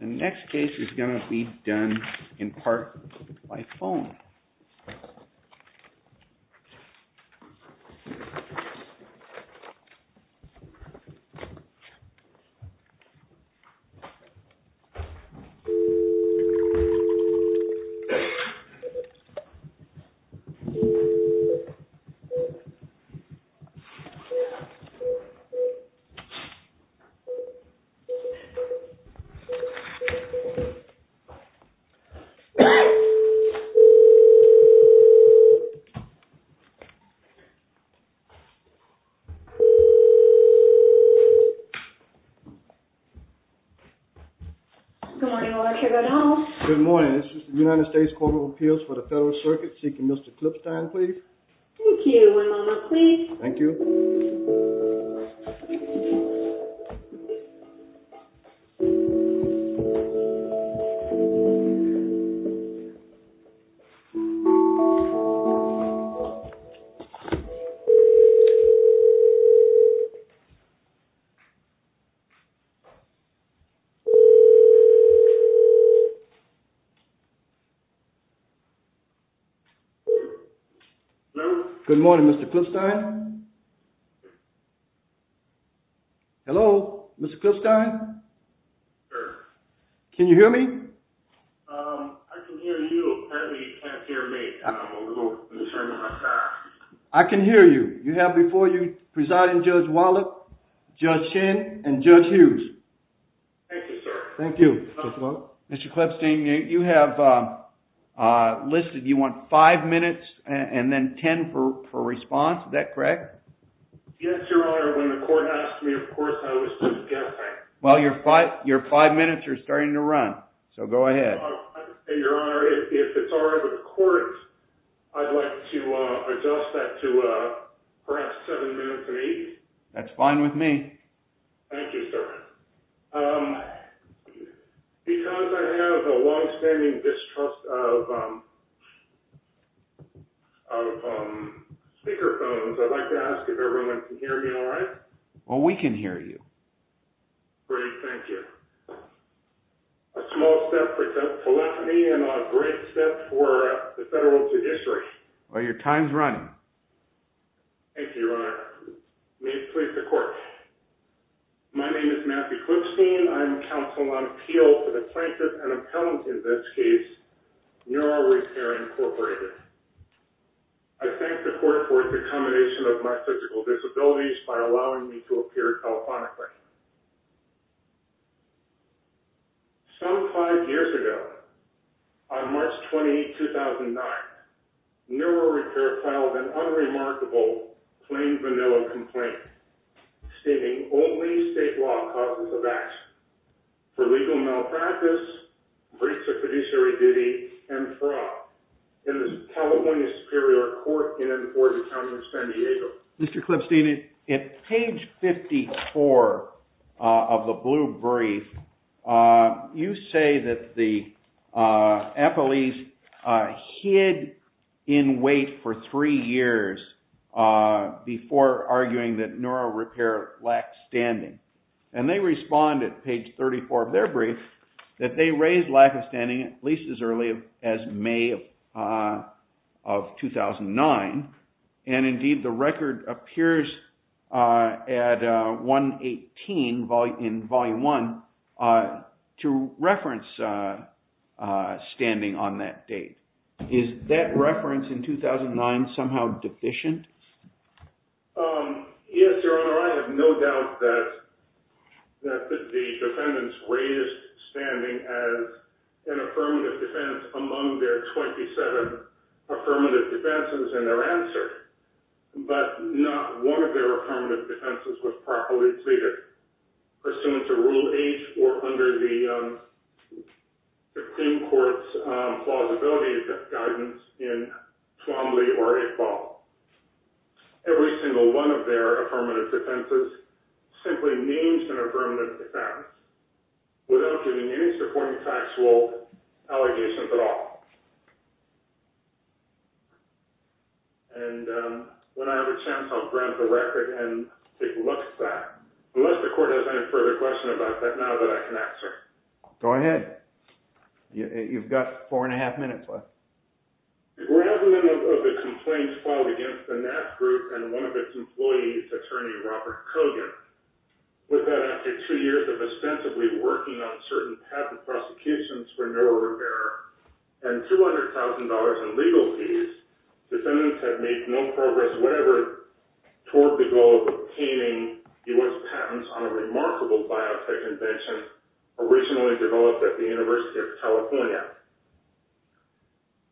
The next case is going to be done in part by phone. This is the United States Court of Appeals for the Federal Circuit seeking Mr. Clipstein, please. Thank you, my mama, please. Thank you. Good morning, Mr. Clipstein. Hello, Mr. Clipstein? Sir. Can you hear me? I can hear you. Apparently, you can't hear me. I'm a little concerned about my time. I can hear you. You have before you Presiding Judge Wallet, Judge Shin, and Judge Hughes. Thank you, sir. Thank you. Mr. Clipstein, you have listed you want five minutes and then ten for response. Is that correct? Yes, Your Honor. When the court asked me, of course, I was just guessing. Well, your five minutes are starting to run, so go ahead. Your Honor, if it's all right with the court, I'd like to adjust that to perhaps seven minutes and eight. That's fine with me. Thank you, sir. Because I have a longstanding distrust of speaker phones, I'd like to ask if everyone can hear me all right. Well, we can hear you. Great. Thank you. A small step for telephony and a great step for the federal judiciary. Your time's running. Thank you, Your Honor. May it please the court. My name is Matthew Clipstein. I'm counsel on appeal for the plaintiff and appellant in this case, Neural Repair Incorporated. I thank the court for its accommodation of my physical disabilities by allowing me to appear telephonically. Some five years ago on March 20, 2009, Neural Repair filed an appeal to the court for a unremarkable plain vanilla complaint stating only state law causes of action for legal malpractice, breach of fiduciary duty, and fraud in the California Superior Court in and for the county of San Diego. Mr. Clipstein, in page 54 of the blue brief, you say that the appellees hid in wait for three years before arguing that Neural Repair lacked standing. And they responded, page 34 of their brief, that they raised lack of standing at least as early as May of 2009, and indeed the record appears at 118 in Volume 1 to reference standing on that date. Is that reference in 2009 somehow deficient? Yes, Your Honor. I have no doubt that the defendants raised standing as an affirmative defense among their 27 affirmative defenses in their answer. But not one of their affirmative defenses was properly treated pursuant to Rule 8 or under the Supreme Court's plausibility guidance in Twombly or Iqbal. Every single one of their affirmative defenses simply means an affirmative defense without giving any supporting factual allegations at all. And when I have a chance, I'll grab the record and take a look at that. Unless the court has any further questions about that now that I can ask, sir. Go ahead. You've got four and a half minutes left. The grand minimum of the complaints filed against the NAPS group and one of its employees, attorney Robert Kogan, was that after two years of ostensibly working on certain patent prosecutions for Neural Repair and $200,000 in legal fees, defendants had made no progress toward the goal of obtaining U.S. patents on a remarkable biotech invention originally developed at the University of California.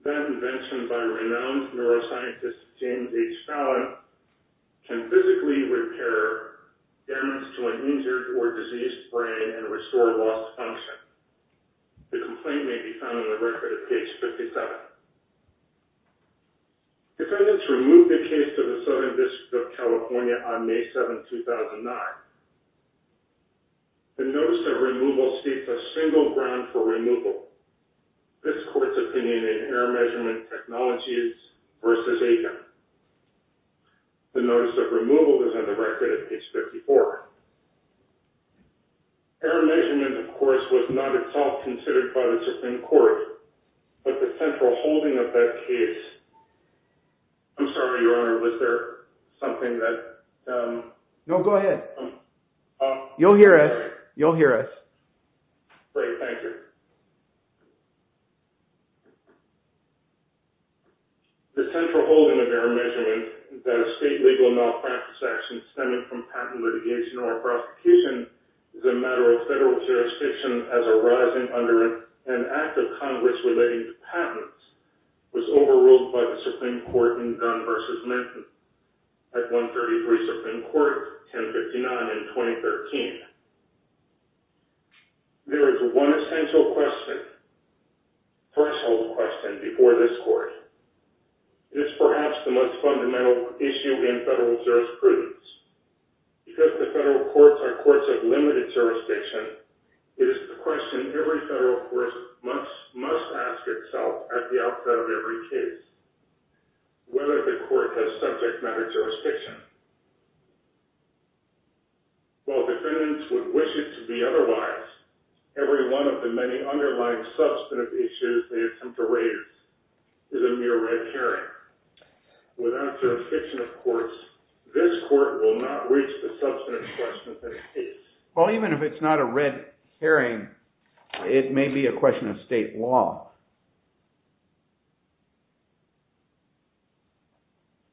That invention by renowned neuroscientist James H. Fallon can physically repair damage to an injured or diseased brain and restore lost function. The complaint may be found in the record at page 57. Defendants removed the case to the Southern District of California on May 7, 2009. The notice of removal states a single ground for removal. This court's opinion in error measurement technology is versus Aiken. The notice of removal is on the record at page 54. Error measurement, of course, was not at all considered by the Supreme Court, but the central holding of that case... I'm sorry, Your Honor, was there something that... No, go ahead. You'll hear us. You'll hear us. Great, thank you. The central holding of error measurement is that a state legal malpractice action stemming from patent litigation or prosecution is a matter of federal jurisdiction as arising under an act of Congress relating to patents was overruled by the Supreme Court in Gunn v. Minton at 133 Supreme Court 1059 in 2013. There is one essential question, threshold question, before this court. It is perhaps the most fundamental issue in federal jurisprudence. Because the federal courts are courts of limited jurisdiction, it is the question every federal court must ask itself at the outset of every case, whether the court has subject matter jurisdiction. While defendants would wish it to be otherwise, every one of the many underlying substantive issues they attempt to raise is a mere red herring. Without jurisdiction of courts, this court will not reach the substantive question of this case. Well, even if it's not a red herring, it may be a question of state law.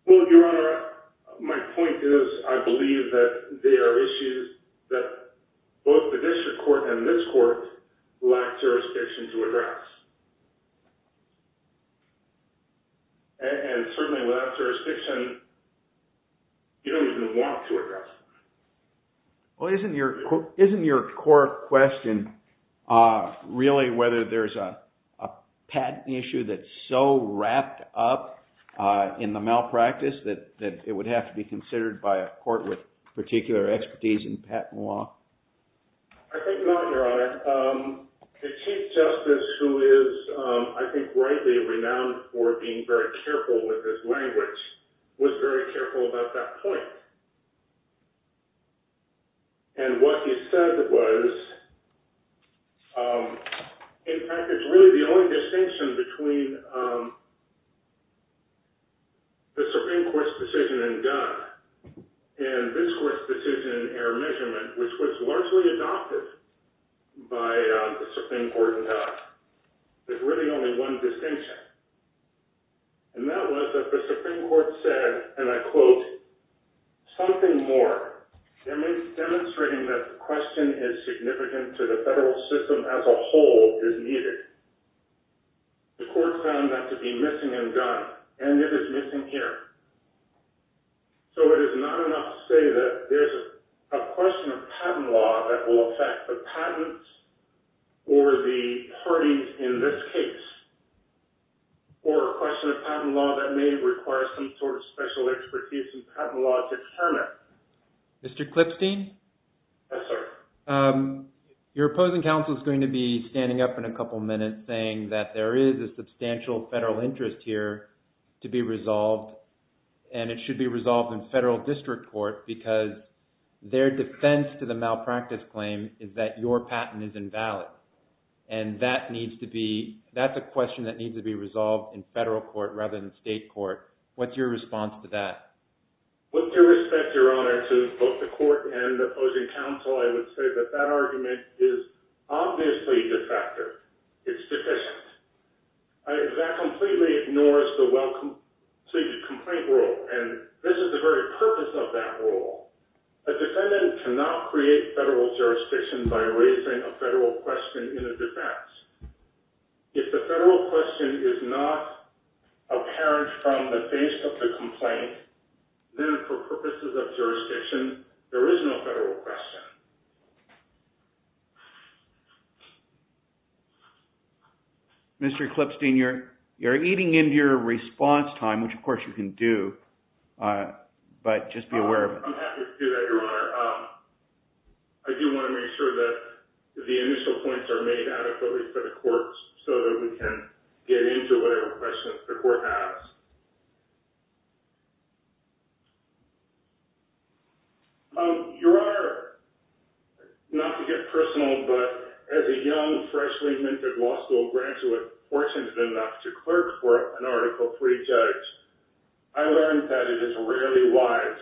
Well, Your Honor, my point is I believe that there are issues that both the district court and this court lack jurisdiction to address. And certainly without jurisdiction, you don't even want to address them. Well, isn't your court question really whether there's a patent issue that's so wrapped up in the malpractice that it would have to be considered by a court with particular expertise in patent law? I think not, Your Honor. But the Chief Justice, who is, I think, rightly renowned for being very careful with his language, was very careful about that point. And what he said was, in fact, it's really the only distinction between the Supreme Court's decision in Gunn and this court's decision in error measurement, which was largely adopted by the Supreme Court in Gunn. There's really only one distinction. And that was that the Supreme Court said, and I quote, something more. Demonstrating that the question is significant to the federal system as a whole is needed. The court found that to be missing in Gunn, and it is missing here. So it is not enough to say that there's a question of patent law that will affect the patents or the parties in this case. Or a question of patent law that may require some sort of special expertise in patent law to determine it. Mr. Clipstein? Yes, sir. Your opposing counsel is going to be standing up in a couple minutes saying that there is a substantial federal interest here to be resolved. And it should be resolved in federal district court because their defense to the malpractice claim is that your patent is invalid. And that's a question that needs to be resolved in federal court rather than state court. What's your response to that? With due respect, Your Honor, to both the court and the opposing counsel, I would say that that argument is obviously detractor. It's deficient. That completely ignores the well-conceived complaint rule. And this is the very purpose of that rule. A defendant cannot create federal jurisdiction by raising a federal question in a defense. If the federal question is not apparent from the face of the complaint, then for purposes of jurisdiction, there is no federal question. Thank you. Mr. Clipstein, you're eating into your response time, which of course you can do. But just be aware of it. I'm happy to do that, Your Honor. I do want to make sure that the initial points are made adequately for the courts so that we can get into whatever questions the court has. Your Honor, not to get personal, but as a young, freshly minted law school graduate fortunate enough to clerk for an Article III judge, I learned that it is rarely wise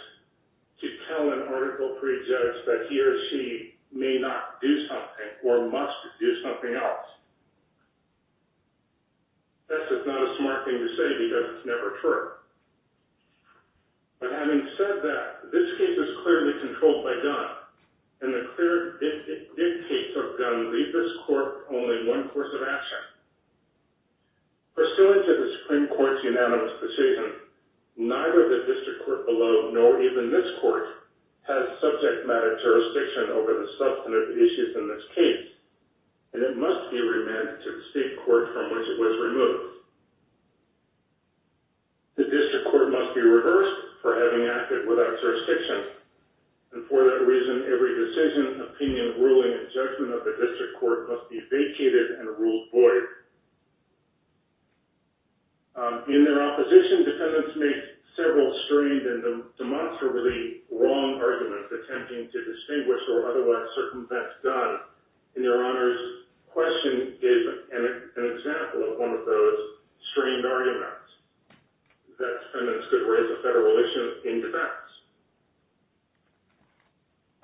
to tell an Article III judge that he or she may not do something or must do something else. That's just not a smart thing to say because it's never been done before. It's never true. But having said that, this case is clearly controlled by gun, and the clear dictates of gun leave this court only one course of action. Pursuant to the Supreme Court's unanimous decision, neither the district court below nor even this court has subject matter jurisdiction over the substantive issues in this case, and it must be remanded to the state court from which it was removed. The district court must be reversed for having acted without jurisdiction, and for that reason every decision, opinion, ruling, and judgment of the district court must be vacated and ruled void. In their opposition, defendants make several strange and demonstrably wrong arguments attempting to distinguish or otherwise circumvent God. And Your Honor's question is an example of one of those strange arguments, that defendants could raise a federal issue in defense.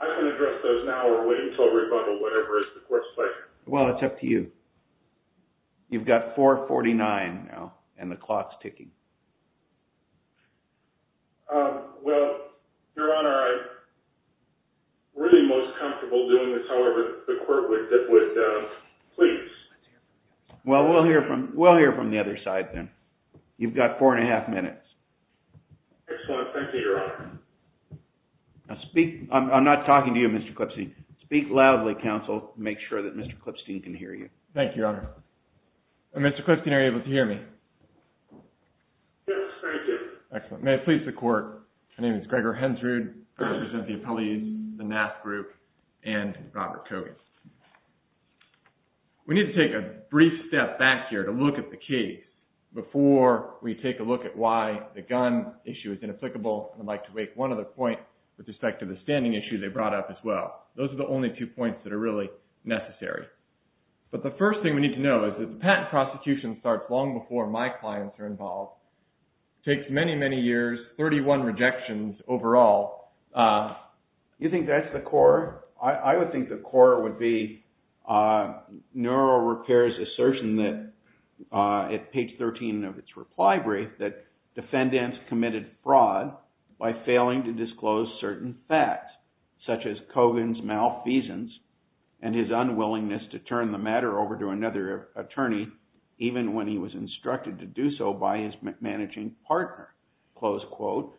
I can address those now or wait until rebuttal, whatever is the court's pleasure. Well, it's up to you. You've got 4.49 now, and the clock's ticking. Well, Your Honor, I'm really most comfortable doing this however the court would please. Well, we'll hear from the other side then. You've got 4.5 minutes. Excellent. Thank you, Your Honor. I'm not talking to you, Mr. Clipstein. Speak loudly, counsel. Make sure that Mr. Clipstein can hear you. Thank you, Your Honor. Mr. Clipstein, are you able to hear me? Yes. Thank you. Excellent. May it please the court. My name is Gregor Hensrud. I represent the appellees, the NAF group, and Robert Kogan. We need to take a brief step back here to look at the case before we take a look at why the gun issue is inapplicable. I'd like to make one other point with respect to the standing issue they brought up as well. Those are the only two points that are really necessary. But the first thing we need to know is that the patent prosecution starts long before my clients are involved. It takes many, many years, 31 rejections overall. Do you think that's the core? I would think the core would be NeuroRepair's assertion at page 13 of its reply brief that defendants committed fraud by failing to disclose certain facts such as Kogan's malfeasance and his unwillingness to turn the matter over to another attorney even when he was instructed to do so by his managing partner, close quote.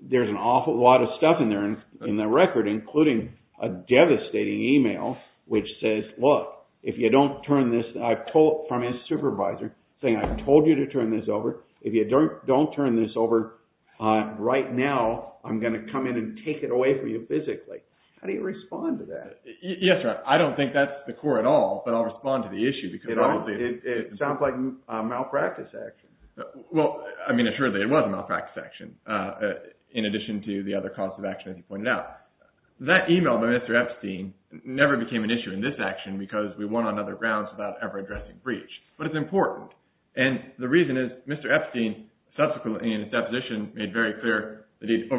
There's an awful lot of stuff in there, in the record, including a devastating email which says, look, if you don't turn this, I've told, from his supervisor, saying I've told you to turn this over, if you don't turn this over right now, I'm going to come in and take it away from you physically. How do you respond to that? Yes, I don't think that's the core at all, but I'll respond to the issue. It sounds like malpractice action. Well, I mean, surely it was malpractice action in addition to the other causes of action as you pointed out. That email by Mr. Epstein never became an issue in this action because we won on other grounds without ever addressing breach. But it's important. And the reason is Mr. Epstein subsequently in his deposition made very clear that he didn't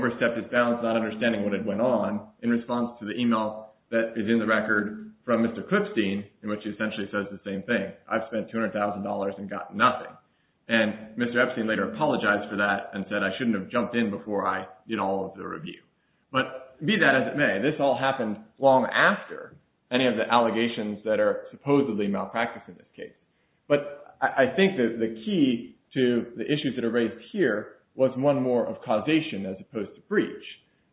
respond to the email that is in the record from Mr. Clipstein, which essentially says the same thing. I've spent $200,000 and gotten nothing. And Mr. Epstein later apologized for that and said I shouldn't have jumped in before I did all of the review. But be that as it may, this all happened long after any of the allegations that are supposedly malpractice in this case. But I think that the key to the issues that are raised here was one more of causation as opposed to breach.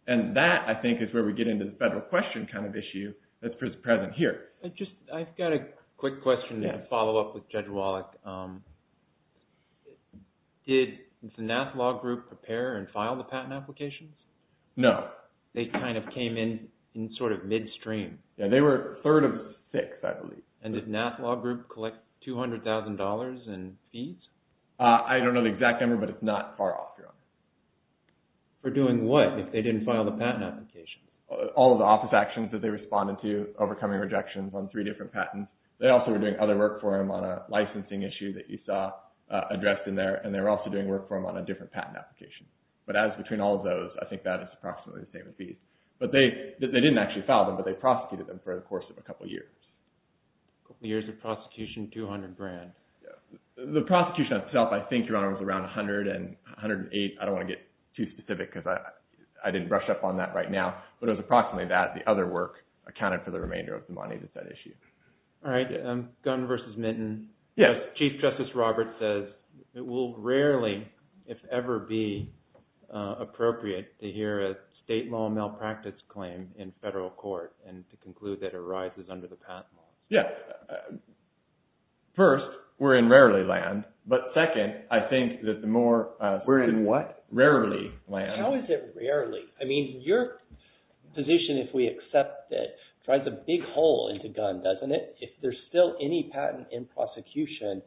And that, I think, is where we get into the federal question kind of issue that's present here. I've got a quick question to follow up with Judge Wallach. Did the Nath Law Group prepare and file the patent applications? No. They kind of came in sort of midstream. Yeah, they were third of six, I believe. And did Nath Law Group collect $200,000 in fees? I don't know the exact number, but it's not far off. For doing what? If they didn't file the patent application. All of the office actions that they responded to, overcoming rejections on three different patents. They also were doing other work for him on a licensing issue that you saw addressed in there. And they were also doing work for him on a different patent application. But as between all of those, I think that is approximately the same fees. They didn't actually file them, but they prosecuted them for the course of a couple years. A couple years of prosecution, $200,000 grand. I don't want to get too specific because I didn't brush up on that right now. But it was approximately that. The other work accounted for the remainder of the money that's at issue. All right. Gunn versus Minton. Yes. Chief Justice Roberts says it will rarely, if ever, be appropriate to hear a state law malpractice claim in federal court and to conclude that it arises under the patent law. Yeah. First, we're in rarely land. But second, I think that the more... We're in what? Rarely land. How is it rarely? I mean, your position, if we accept it, drives a big hole into Gunn, doesn't it? If there's still any patent in prosecution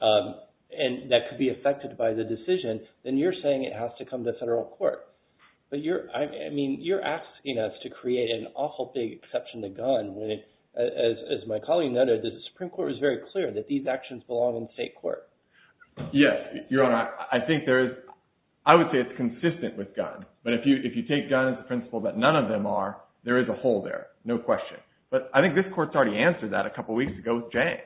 that could be affected by the decision, then you're saying it has to come to federal court. But you're asking us to create an awful big exception to Gunn when, as my colleague noted, the Supreme Court was very clear that these actions belong in state court. Yes, Your Honor. And I think there is... I would say it's consistent with Gunn. But if you take Gunn as the principle that none of them are, there is a hole there. No question. But I think this court's already answered that a couple weeks ago with Jang.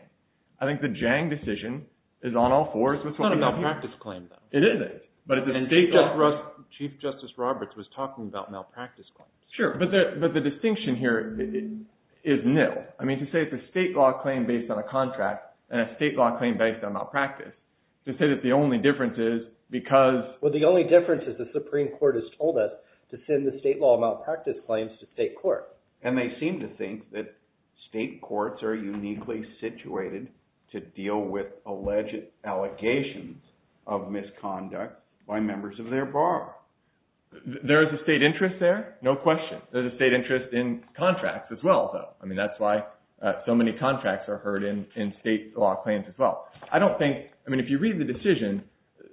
I think the Jang decision is on all fours. It's not a malpractice claim, though. It is. And Chief Justice Roberts was talking about malpractice claims. Sure. But the distinction here is nil. I mean, to say it's a state law claim based on a contract and a state law claim based on malpractice, to say that the only difference is because... Well, the only difference is the Supreme Court has told us to send the state law malpractice claims to state court. And they seem to think that state courts are uniquely situated to deal with alleged allegations of misconduct by members of their bar. There is a state interest there? No question. There's a state interest in contracts as well, though. I don't think... I mean, if you read the decision,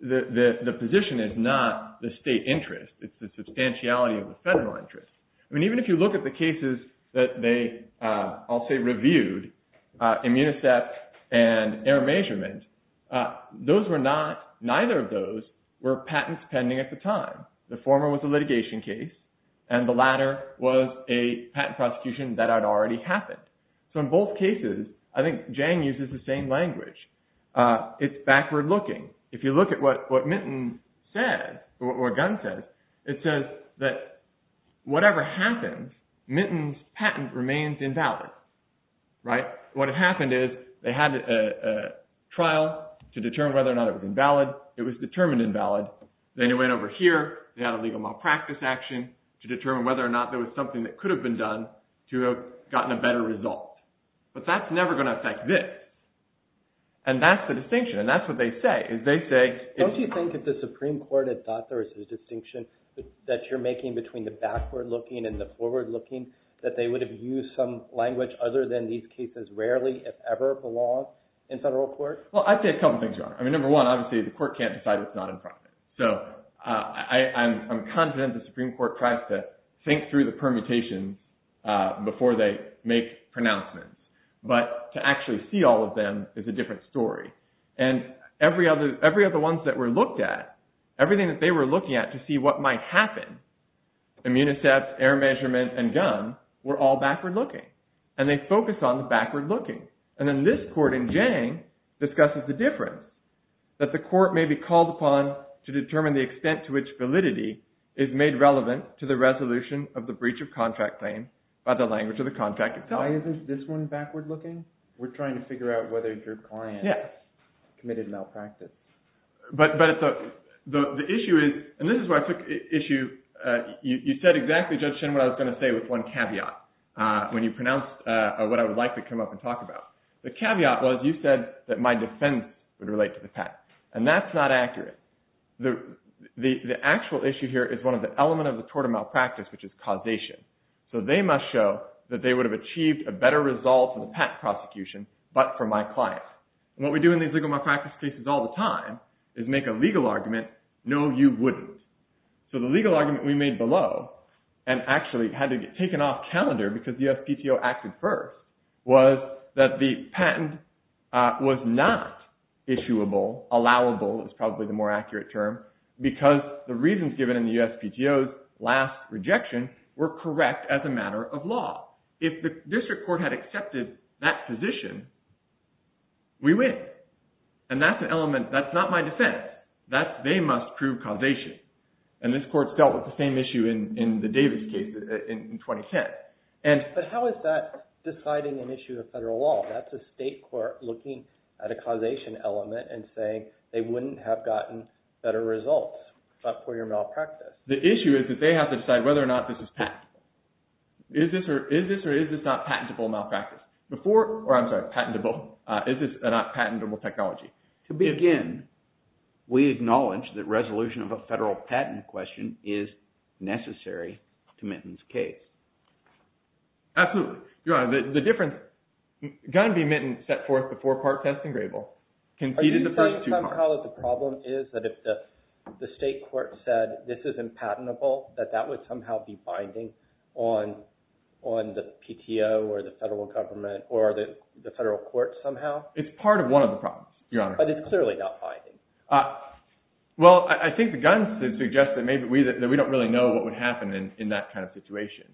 the position is not the state interest. It's the substantiality of the federal interest. I mean, even if you look at the cases that they, I'll say, reviewed, Immunicep and Air Measurement, those were not, neither of those were patents pending at the time. The former was a litigation case, and the latter was a patent prosecution that had already happened. So in both cases, I think Jang uses the same language. It's backward looking. If you look at what Minton said, or what Gunn says, it says that whatever happens, Minton's patent remains invalid. Right? What happened is they had a trial to determine whether or not it was invalid. It was determined invalid. Then it went over here. They had a legal malpractice action to determine whether or not there was something that could have gotten a better result. But that's never going to affect this. And that's the distinction. And that's what they say. Don't you think if the Supreme Court had thought there was a distinction that you're making between the backward looking and the forward looking, that they would have used some language other than these cases rarely, if ever, belong in federal court? Well, I'd say a couple things, Your Honor. I mean, number one, obviously, the court can't decide what's not in profit. So I'm confident the Supreme Court tries to think through the permutation before they make pronouncements. But to actually see all of them is a different story. And every other ones that were looked at, everything that they were looking at to see what might happen, Immunicept, error measurement, and Gunn, were all backward looking. And they focused on the backward looking. And then this court in Jang discusses the difference, that the court may be called upon to determine the extent to which validity is made relevant to the resolution of the contract itself. Why isn't this one backward looking? We're trying to figure out whether your client committed malpractice. But the issue is, and this is where I took issue. You said exactly, Judge Shen, what I was going to say with one caveat. When you pronounced what I would like to come up and talk about. The caveat was, you said that my defense would relate to the past. And that's not accurate. The actual issue here is one of the elements of the tort of malpractice, which is causation. So they must show that they would have achieved a better result in the patent prosecution, but for my client. And what we do in these legal malpractice cases all the time, is make a legal argument, no you wouldn't. So the legal argument we made below, and actually had to get taken off calendar, because the USPTO acted first, was that the patent was not issuable, allowable, is probably the more accurate term. Because the reasons given in the USPTO's last rejection were correct as a matter of law. If the district court had accepted that position, we win. And that's an element, that's not my defense. They must prove causation. And this court dealt with the same issue in the Davis case in 2010. But how is that deciding an issue of federal law? That's a state court looking at a causation element and saying, they wouldn't have gotten better results, but for your malpractice. The issue is that they have to decide whether or not this is patentable. Is this or is this not patentable malpractice? Before, or I'm sorry, patentable. Is this a not patentable technology? To begin, we acknowledge that resolution of a federal patent question is necessary to Minton's case. Absolutely. Are you saying somehow that the problem is that if the state court said, this isn't patentable, that that would somehow be binding on the PTO or the federal government or the federal courts somehow? It's part of one of the problems, Your Honor. But it's clearly not binding. Well, I think the guns suggest that maybe we don't really know what would happen in that kind of situation.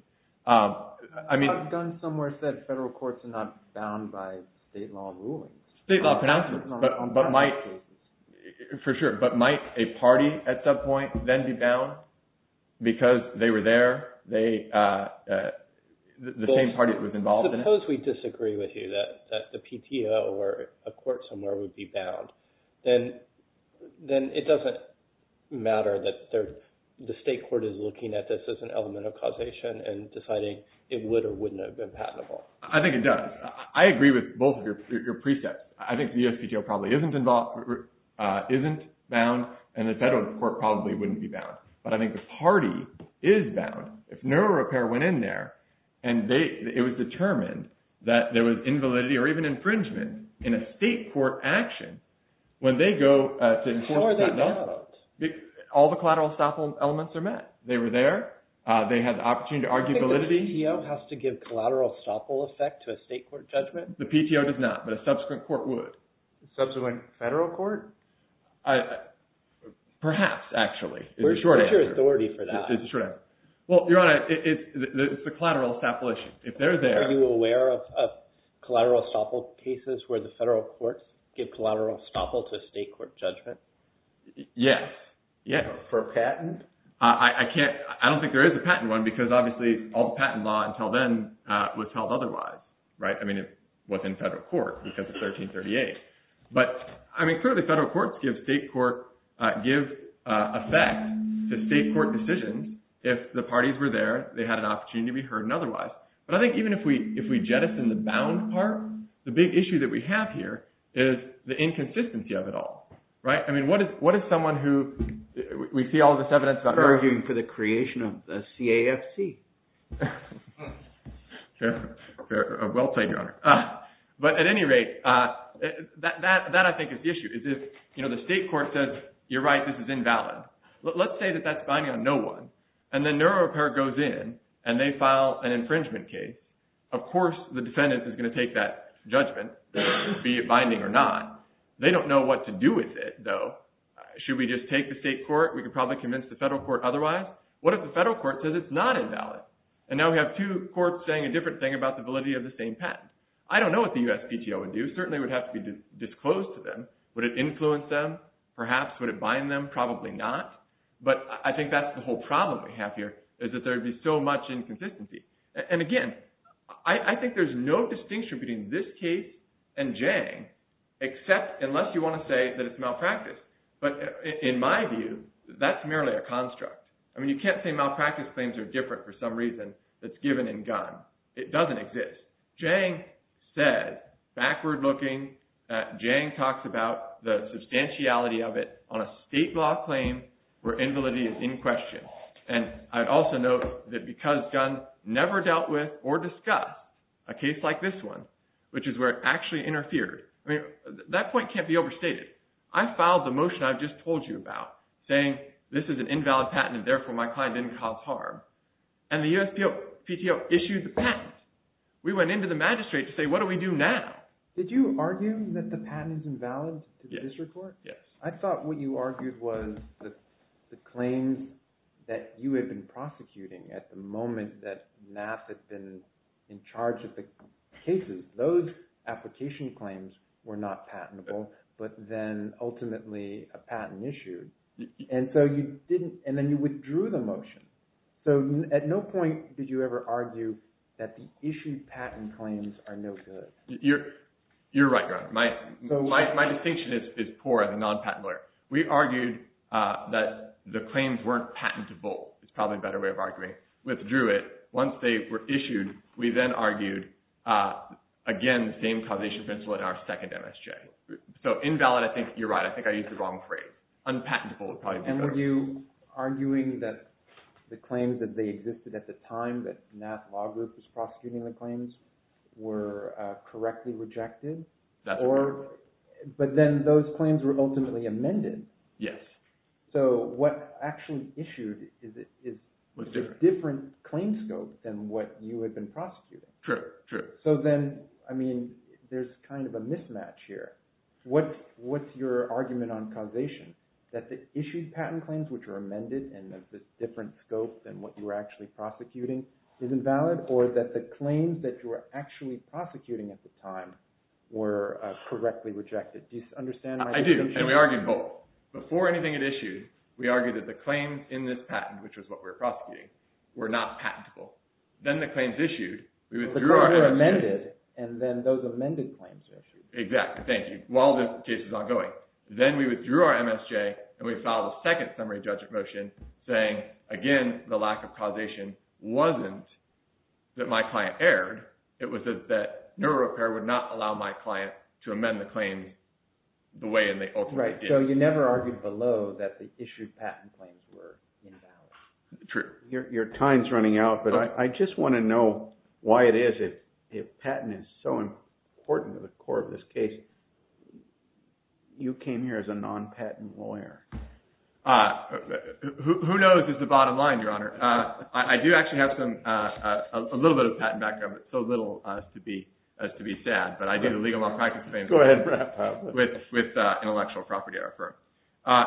A gun somewhere said federal courts are not bound by state law rulings. State law pronouncements. For sure. But might a party at some point then be bound because they were there? The same party that was involved in it? Suppose we disagree with you that the PTO or a court somewhere would be bound. Then it doesn't matter that the state court is looking at this as an element of causation and deciding it would or wouldn't have been patentable. I think it does. I agree with both of your precepts. I think the USPTO probably isn't involved, isn't bound, and the federal court probably wouldn't be bound. But I think the party is bound. If neural repair went in there and it was determined that there was invalidity or even infringement in a state court action, when they go to enforce patent law. How are they bound? All the collateral estoppel elements are met. They were there. They had the opportunity to argue validity. The PTO has to give collateral estoppel effect to a state court judgment? The PTO does not, but a subsequent court would. Subsequent federal court? Perhaps, actually. Where's your authority for that? It's a collateral estoppel issue. Are you aware of collateral estoppel cases where the federal courts give collateral estoppel to a state court judgment? Yes. For a patent? I don't think there is a patent one because obviously all the patent law until then was held otherwise. It was in federal court because of 1338. But clearly federal courts give effect to state court decisions if the parties were there, they had an opportunity to be heard and otherwise. But I think even if we jettison the bound part, the big issue that we have here is the inconsistency of it all. What is someone who, we see all this evidence about arguing for the creation of the CAFC. Well said, Your Honor. But at any rate, that I think is the issue. The state court says, you're right, this is invalid. Let's say that that's binding on no one and the neuro-repair goes in and they file an infringement case. Of course the defendant is going to take that judgment, be it binding or not. They don't know what to do with it though. Should we just take the state court? We could probably convince the federal court otherwise. What if the federal court says it's not invalid? And now we have two courts saying a different thing about the validity of the same patent. I don't know what the USPTO would do. It certainly would have to be disclosed to them. Would it influence them? Perhaps. Would it bind them? Probably not. But I think that's the whole problem we have here is that there would be so much inconsistency. And again, I think there's no distinction between this case and Jang unless you want to say that it's malpractice. But in my view, that's merely a construct. I mean, you can't say malpractice claims are different for some reason that's given in Gunn. It doesn't exist. Jang said, backward looking, that Jang talks about the substantiality of it on a state law claim where invalidity is in question. And I'd also note that because Gunn never dealt with or discussed a case like this one, which is where it actually interfered, I mean, that point can't be overstated. I filed the motion I've just told you about saying this is an invalid patent and therefore my client didn't cause harm. And the USPTO issued the patent. We went into the magistrate to say, what do we do now? Did you argue that the patent is invalid to the district court? Yes. I thought what you argued was the claims that you had been prosecuting at the moment that NAAP had been in charge of the cases those application claims were not patentable but then ultimately a patent issued. And so you didn't and then you withdrew the motion. So at no point did you ever argue that the issued patent claims are no good. You're right. My distinction is poor as a non-patent lawyer. We argued that the claims weren't patentable. It's probably a better way of arguing. Withdrew it. Once they were issued we then argued again the same causation principle in our second MSJ. So invalid I think you're right. I think I used the wrong phrase. Unpatentable would probably be better. And were you arguing that the claims that they existed at the time that NAAP law group was prosecuting the claims were correctly rejected? That's correct. But then those claims were ultimately amended. Yes. So what actually issued is a different claim scope than what you had been prosecuting. True. So then I mean there's kind of a mismatch here. What's your argument on causation? That the issued patent claims which are amended and have a different scope than what you were actually prosecuting is invalid or that the claims that you were actually prosecuting at the time were correctly rejected. Do you understand my distinction? I do. And we argued both. Before anything had issued we argued that the claims in this patent which was what we were prosecuting were not patentable. Then the claims issued we withdrew our MSJ. The claims were amended and then those amended claims were issued. Exactly. Thank you. While this case is ongoing then we withdrew our MSJ and we filed a second summary judgment motion saying again the lack of causation wasn't that my client erred. It was that NeuroRepair would not allow my client to amend the claim the way they ultimately did. Right. So you never argued below that the issued patent claims were invalid. True. Your time is running out but I just want to know why it is that patent is so important to the core of this case. You came here as a non-patent lawyer. Who knows is the bottom line Your Honor. I do actually have some a little bit of patent background but so little as to be sad but I did a legal law practice claim with intellectual property at our firm.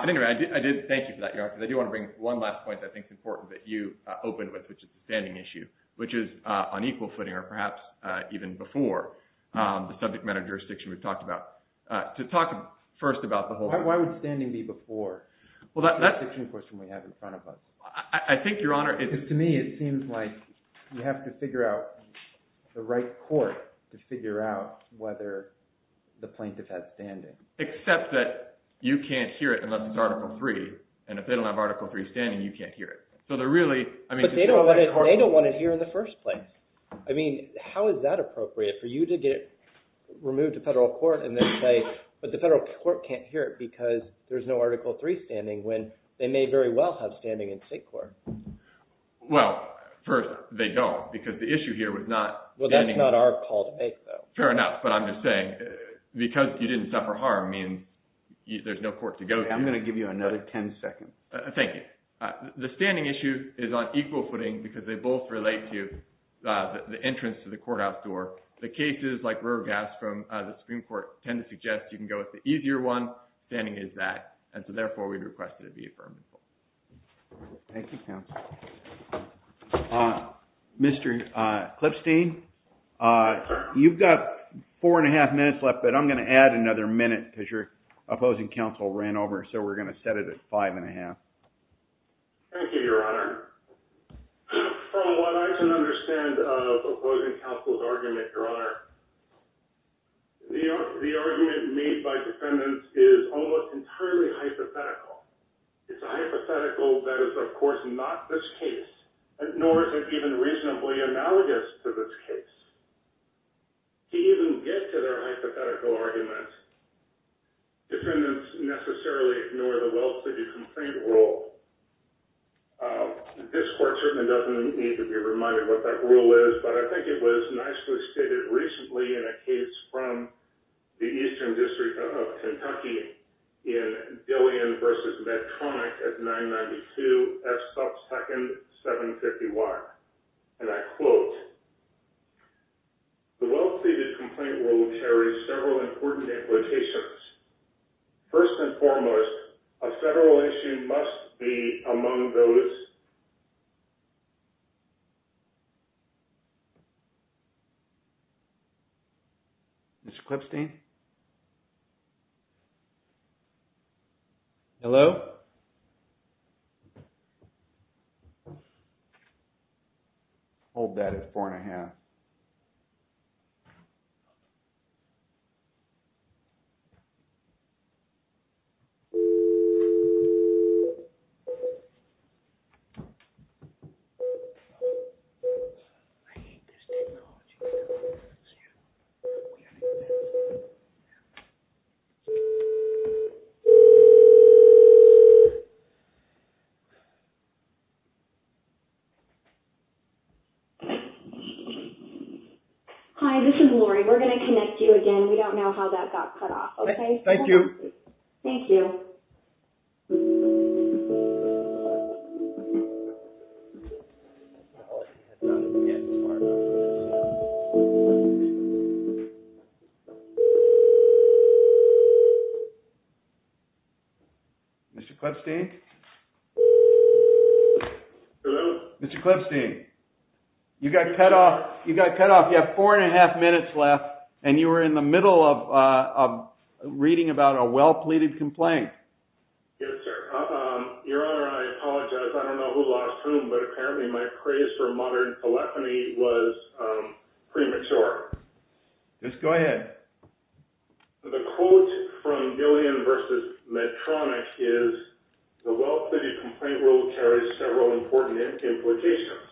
Anyway I did thank you for that Your Honor because I do want to bring one last point that I think is important that you opened with which is the standing issue which is on equal footing or perhaps even before the subject matter jurisdiction we've talked about. To talk first about the whole Why would standing be before the jurisdiction question we have in front of us. I think Your Honor To me it seems like you have to figure out the right court to figure out whether the plaintiff has standing. Except that you can't hear it and you can't hear it. So they're really They don't want to hear in the first place. I mean how is that appropriate for you to get removed to federal court but the federal court can't hear it because there's no Article 3 standing when they may very well have standing in state court. Well first they don't because the issue here was not Well that's not our call to make though. Fair enough but I'm just saying because you didn't suffer harm means there's no court to go to. I'm going to give you another 10 seconds. Thank you. The standing issue is on equal footing because they both relate to the entrance to the courthouse door. The cases like Roegast from the Supreme Court tend to suggest you can go with the easier one standing is that and so therefore we request it to be affirmed. Thank you counsel. Mr. Clipstein you've got four and a half minutes left but I'm going to add another minute because your opposing counsel ran over so we're going to set it at five and a half. Thank you your honor. From what I can understand of opposing counsel's argument your honor the argument made by defendants is almost entirely hypothetical. It's a hypothetical that is of course not this case nor is it even reasonably analogous to this case. To even get to their hypothetical argument defendants necessarily ignore the well pleaded complaint rule. This court certainly doesn't need to be reminded what that rule is but I think it was nicely stated recently in a case from the Eastern District of Kentucky in Dillion versus Medtronic at 992 F Sub Second 750 Y and I quote the well pleaded complaint rule clearly carries several important implications. First and foremost a federal issue must be among those Mr. Clipstein Hello Hold that at four and a half. I hate this technology. Hi this is Laurie. We're going to connect you again. We don't know how that got cut off. Thank you. Thank you. Mr. Clipstein Mr. Clipstein you got cut off you have four and a half minutes left and you were in the middle of reading about a well pleaded complaint. Yes sir. Your Honor I apologize. I don't know who lost whom but apparently my craze for modern telephony was premature. Just go ahead. The quote from Dillion versus Medtronic is the well pleaded complaint rule carries several important implications.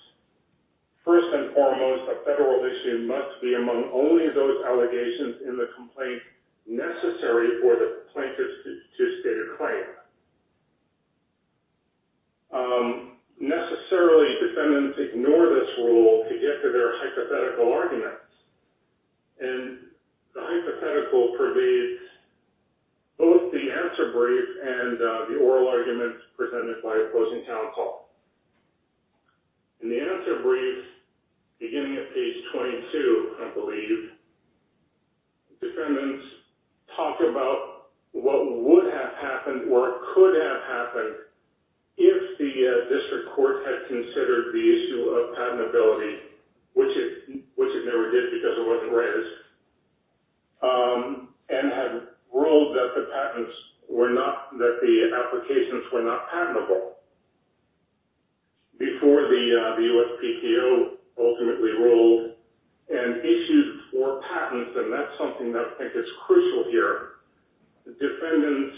First and foremost a federal issue must be among only those allegations in the complaint necessary for the plaintiff to state a claim. Necessarily defendants ignore this rule to get to their hypothetical arguments and the hypothetical pervades both the answer brief and the oral arguments presented by opposing counsel. In the answer brief beginning at page 22 I believe defendants talk about what would have happened or could have happened if the district court had considered the issue of patentability which it never did because it wasn't raised and had ruled that the patents were not that the applications were not patentable before the USPTO ultimately ruled and issued four patents and that's something that I think is crucial here. Defendants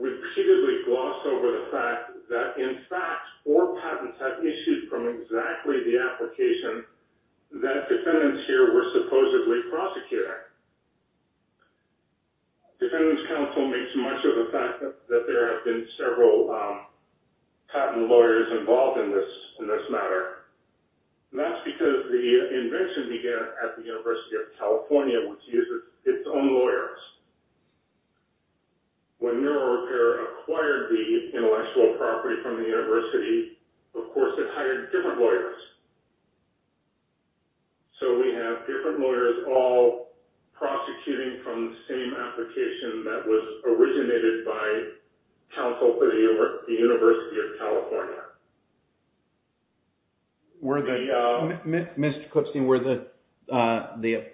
repeatedly gloss over the fact that in fact four patents had issued from exactly the application that defendants here were supposedly prosecuting. Defendants counsel don't make too much of the fact that there have been several patent lawyers involved in this matter. That's because the invention began at the University of California which uses its own lawyers. When NeuroRepair acquired the intellectual property from the university of course it hired different lawyers. So we have different lawyers all prosecuting from the same application that was originated by counsel for the University of California. Were the Mr. Clipstein, were the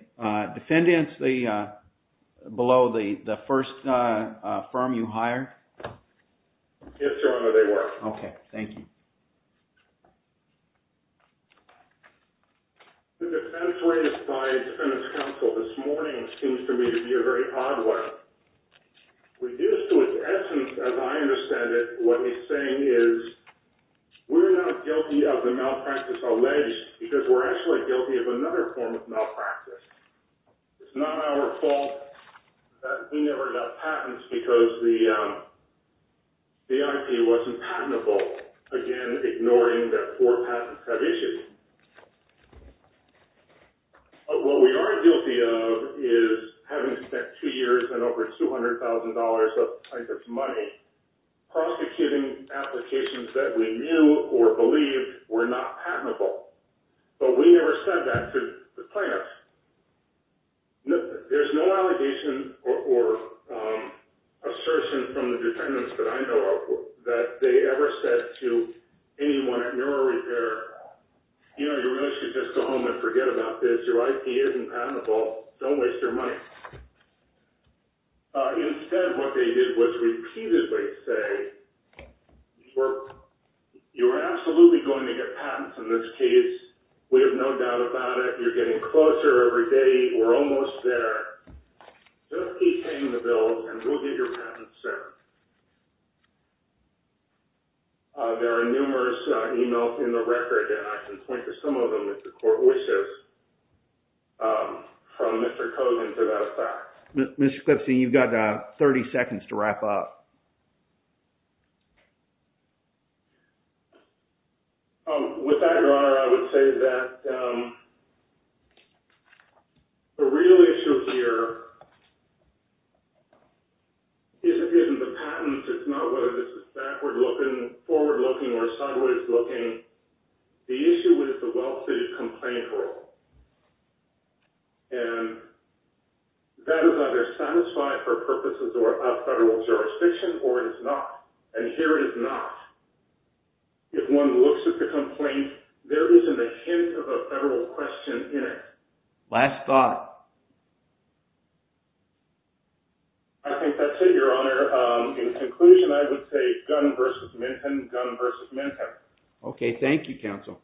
defendants below the first firm you hired? Yes, Your Honor, they were. Okay, thank you. The defense rate applied to defendants counsel this morning seems to me to be a very odd one. Reduced to its essence as I understand it, what he's saying is we're not guilty of the malpractice alleged because we're actually guilty of another form of malpractice. It's not our fault that we never got patents because the IP wasn't patentable. Again, ignoring that four patents have issued. What we are guilty of is having spent two years and over $200,000 of plaintiff's money prosecuting applications that we knew or believed were not patentable. But we never said that to the plaintiffs. There's no allegation or assertion from the defendants that I know of that they ever said to anyone at Neural Repair that they really should just go home and forget about this. Your IP isn't patentable. Don't waste your money. Instead, what they did was repeatedly say you are absolutely going to get patents in this case. We have no doubt about it. You're getting closer every day. We're almost there. Just keep paying the bills and we'll get your patents soon. There are numerous emails in the record and I can point to some of them if the court wishes from Mr. Kogan to that effect. Mr. Clipsie, you've got 30 seconds to wrap up. With that, Your Honor, I would say that the real issue here isn't the patent. It's not whether this is backward looking, forward looking, or sideways looking. The issue is the well-fitted complaint rule. And that is either satisfied for purposes of federal jurisdiction or it is not. And here it is not. If one looks at the complaint, there isn't a hint of a federal question in it. Last thought. I think that's it, Your Honor. In conclusion, I would say Gunn v. Minton, Gunn v. Minton. Okay. Thank you, counsel.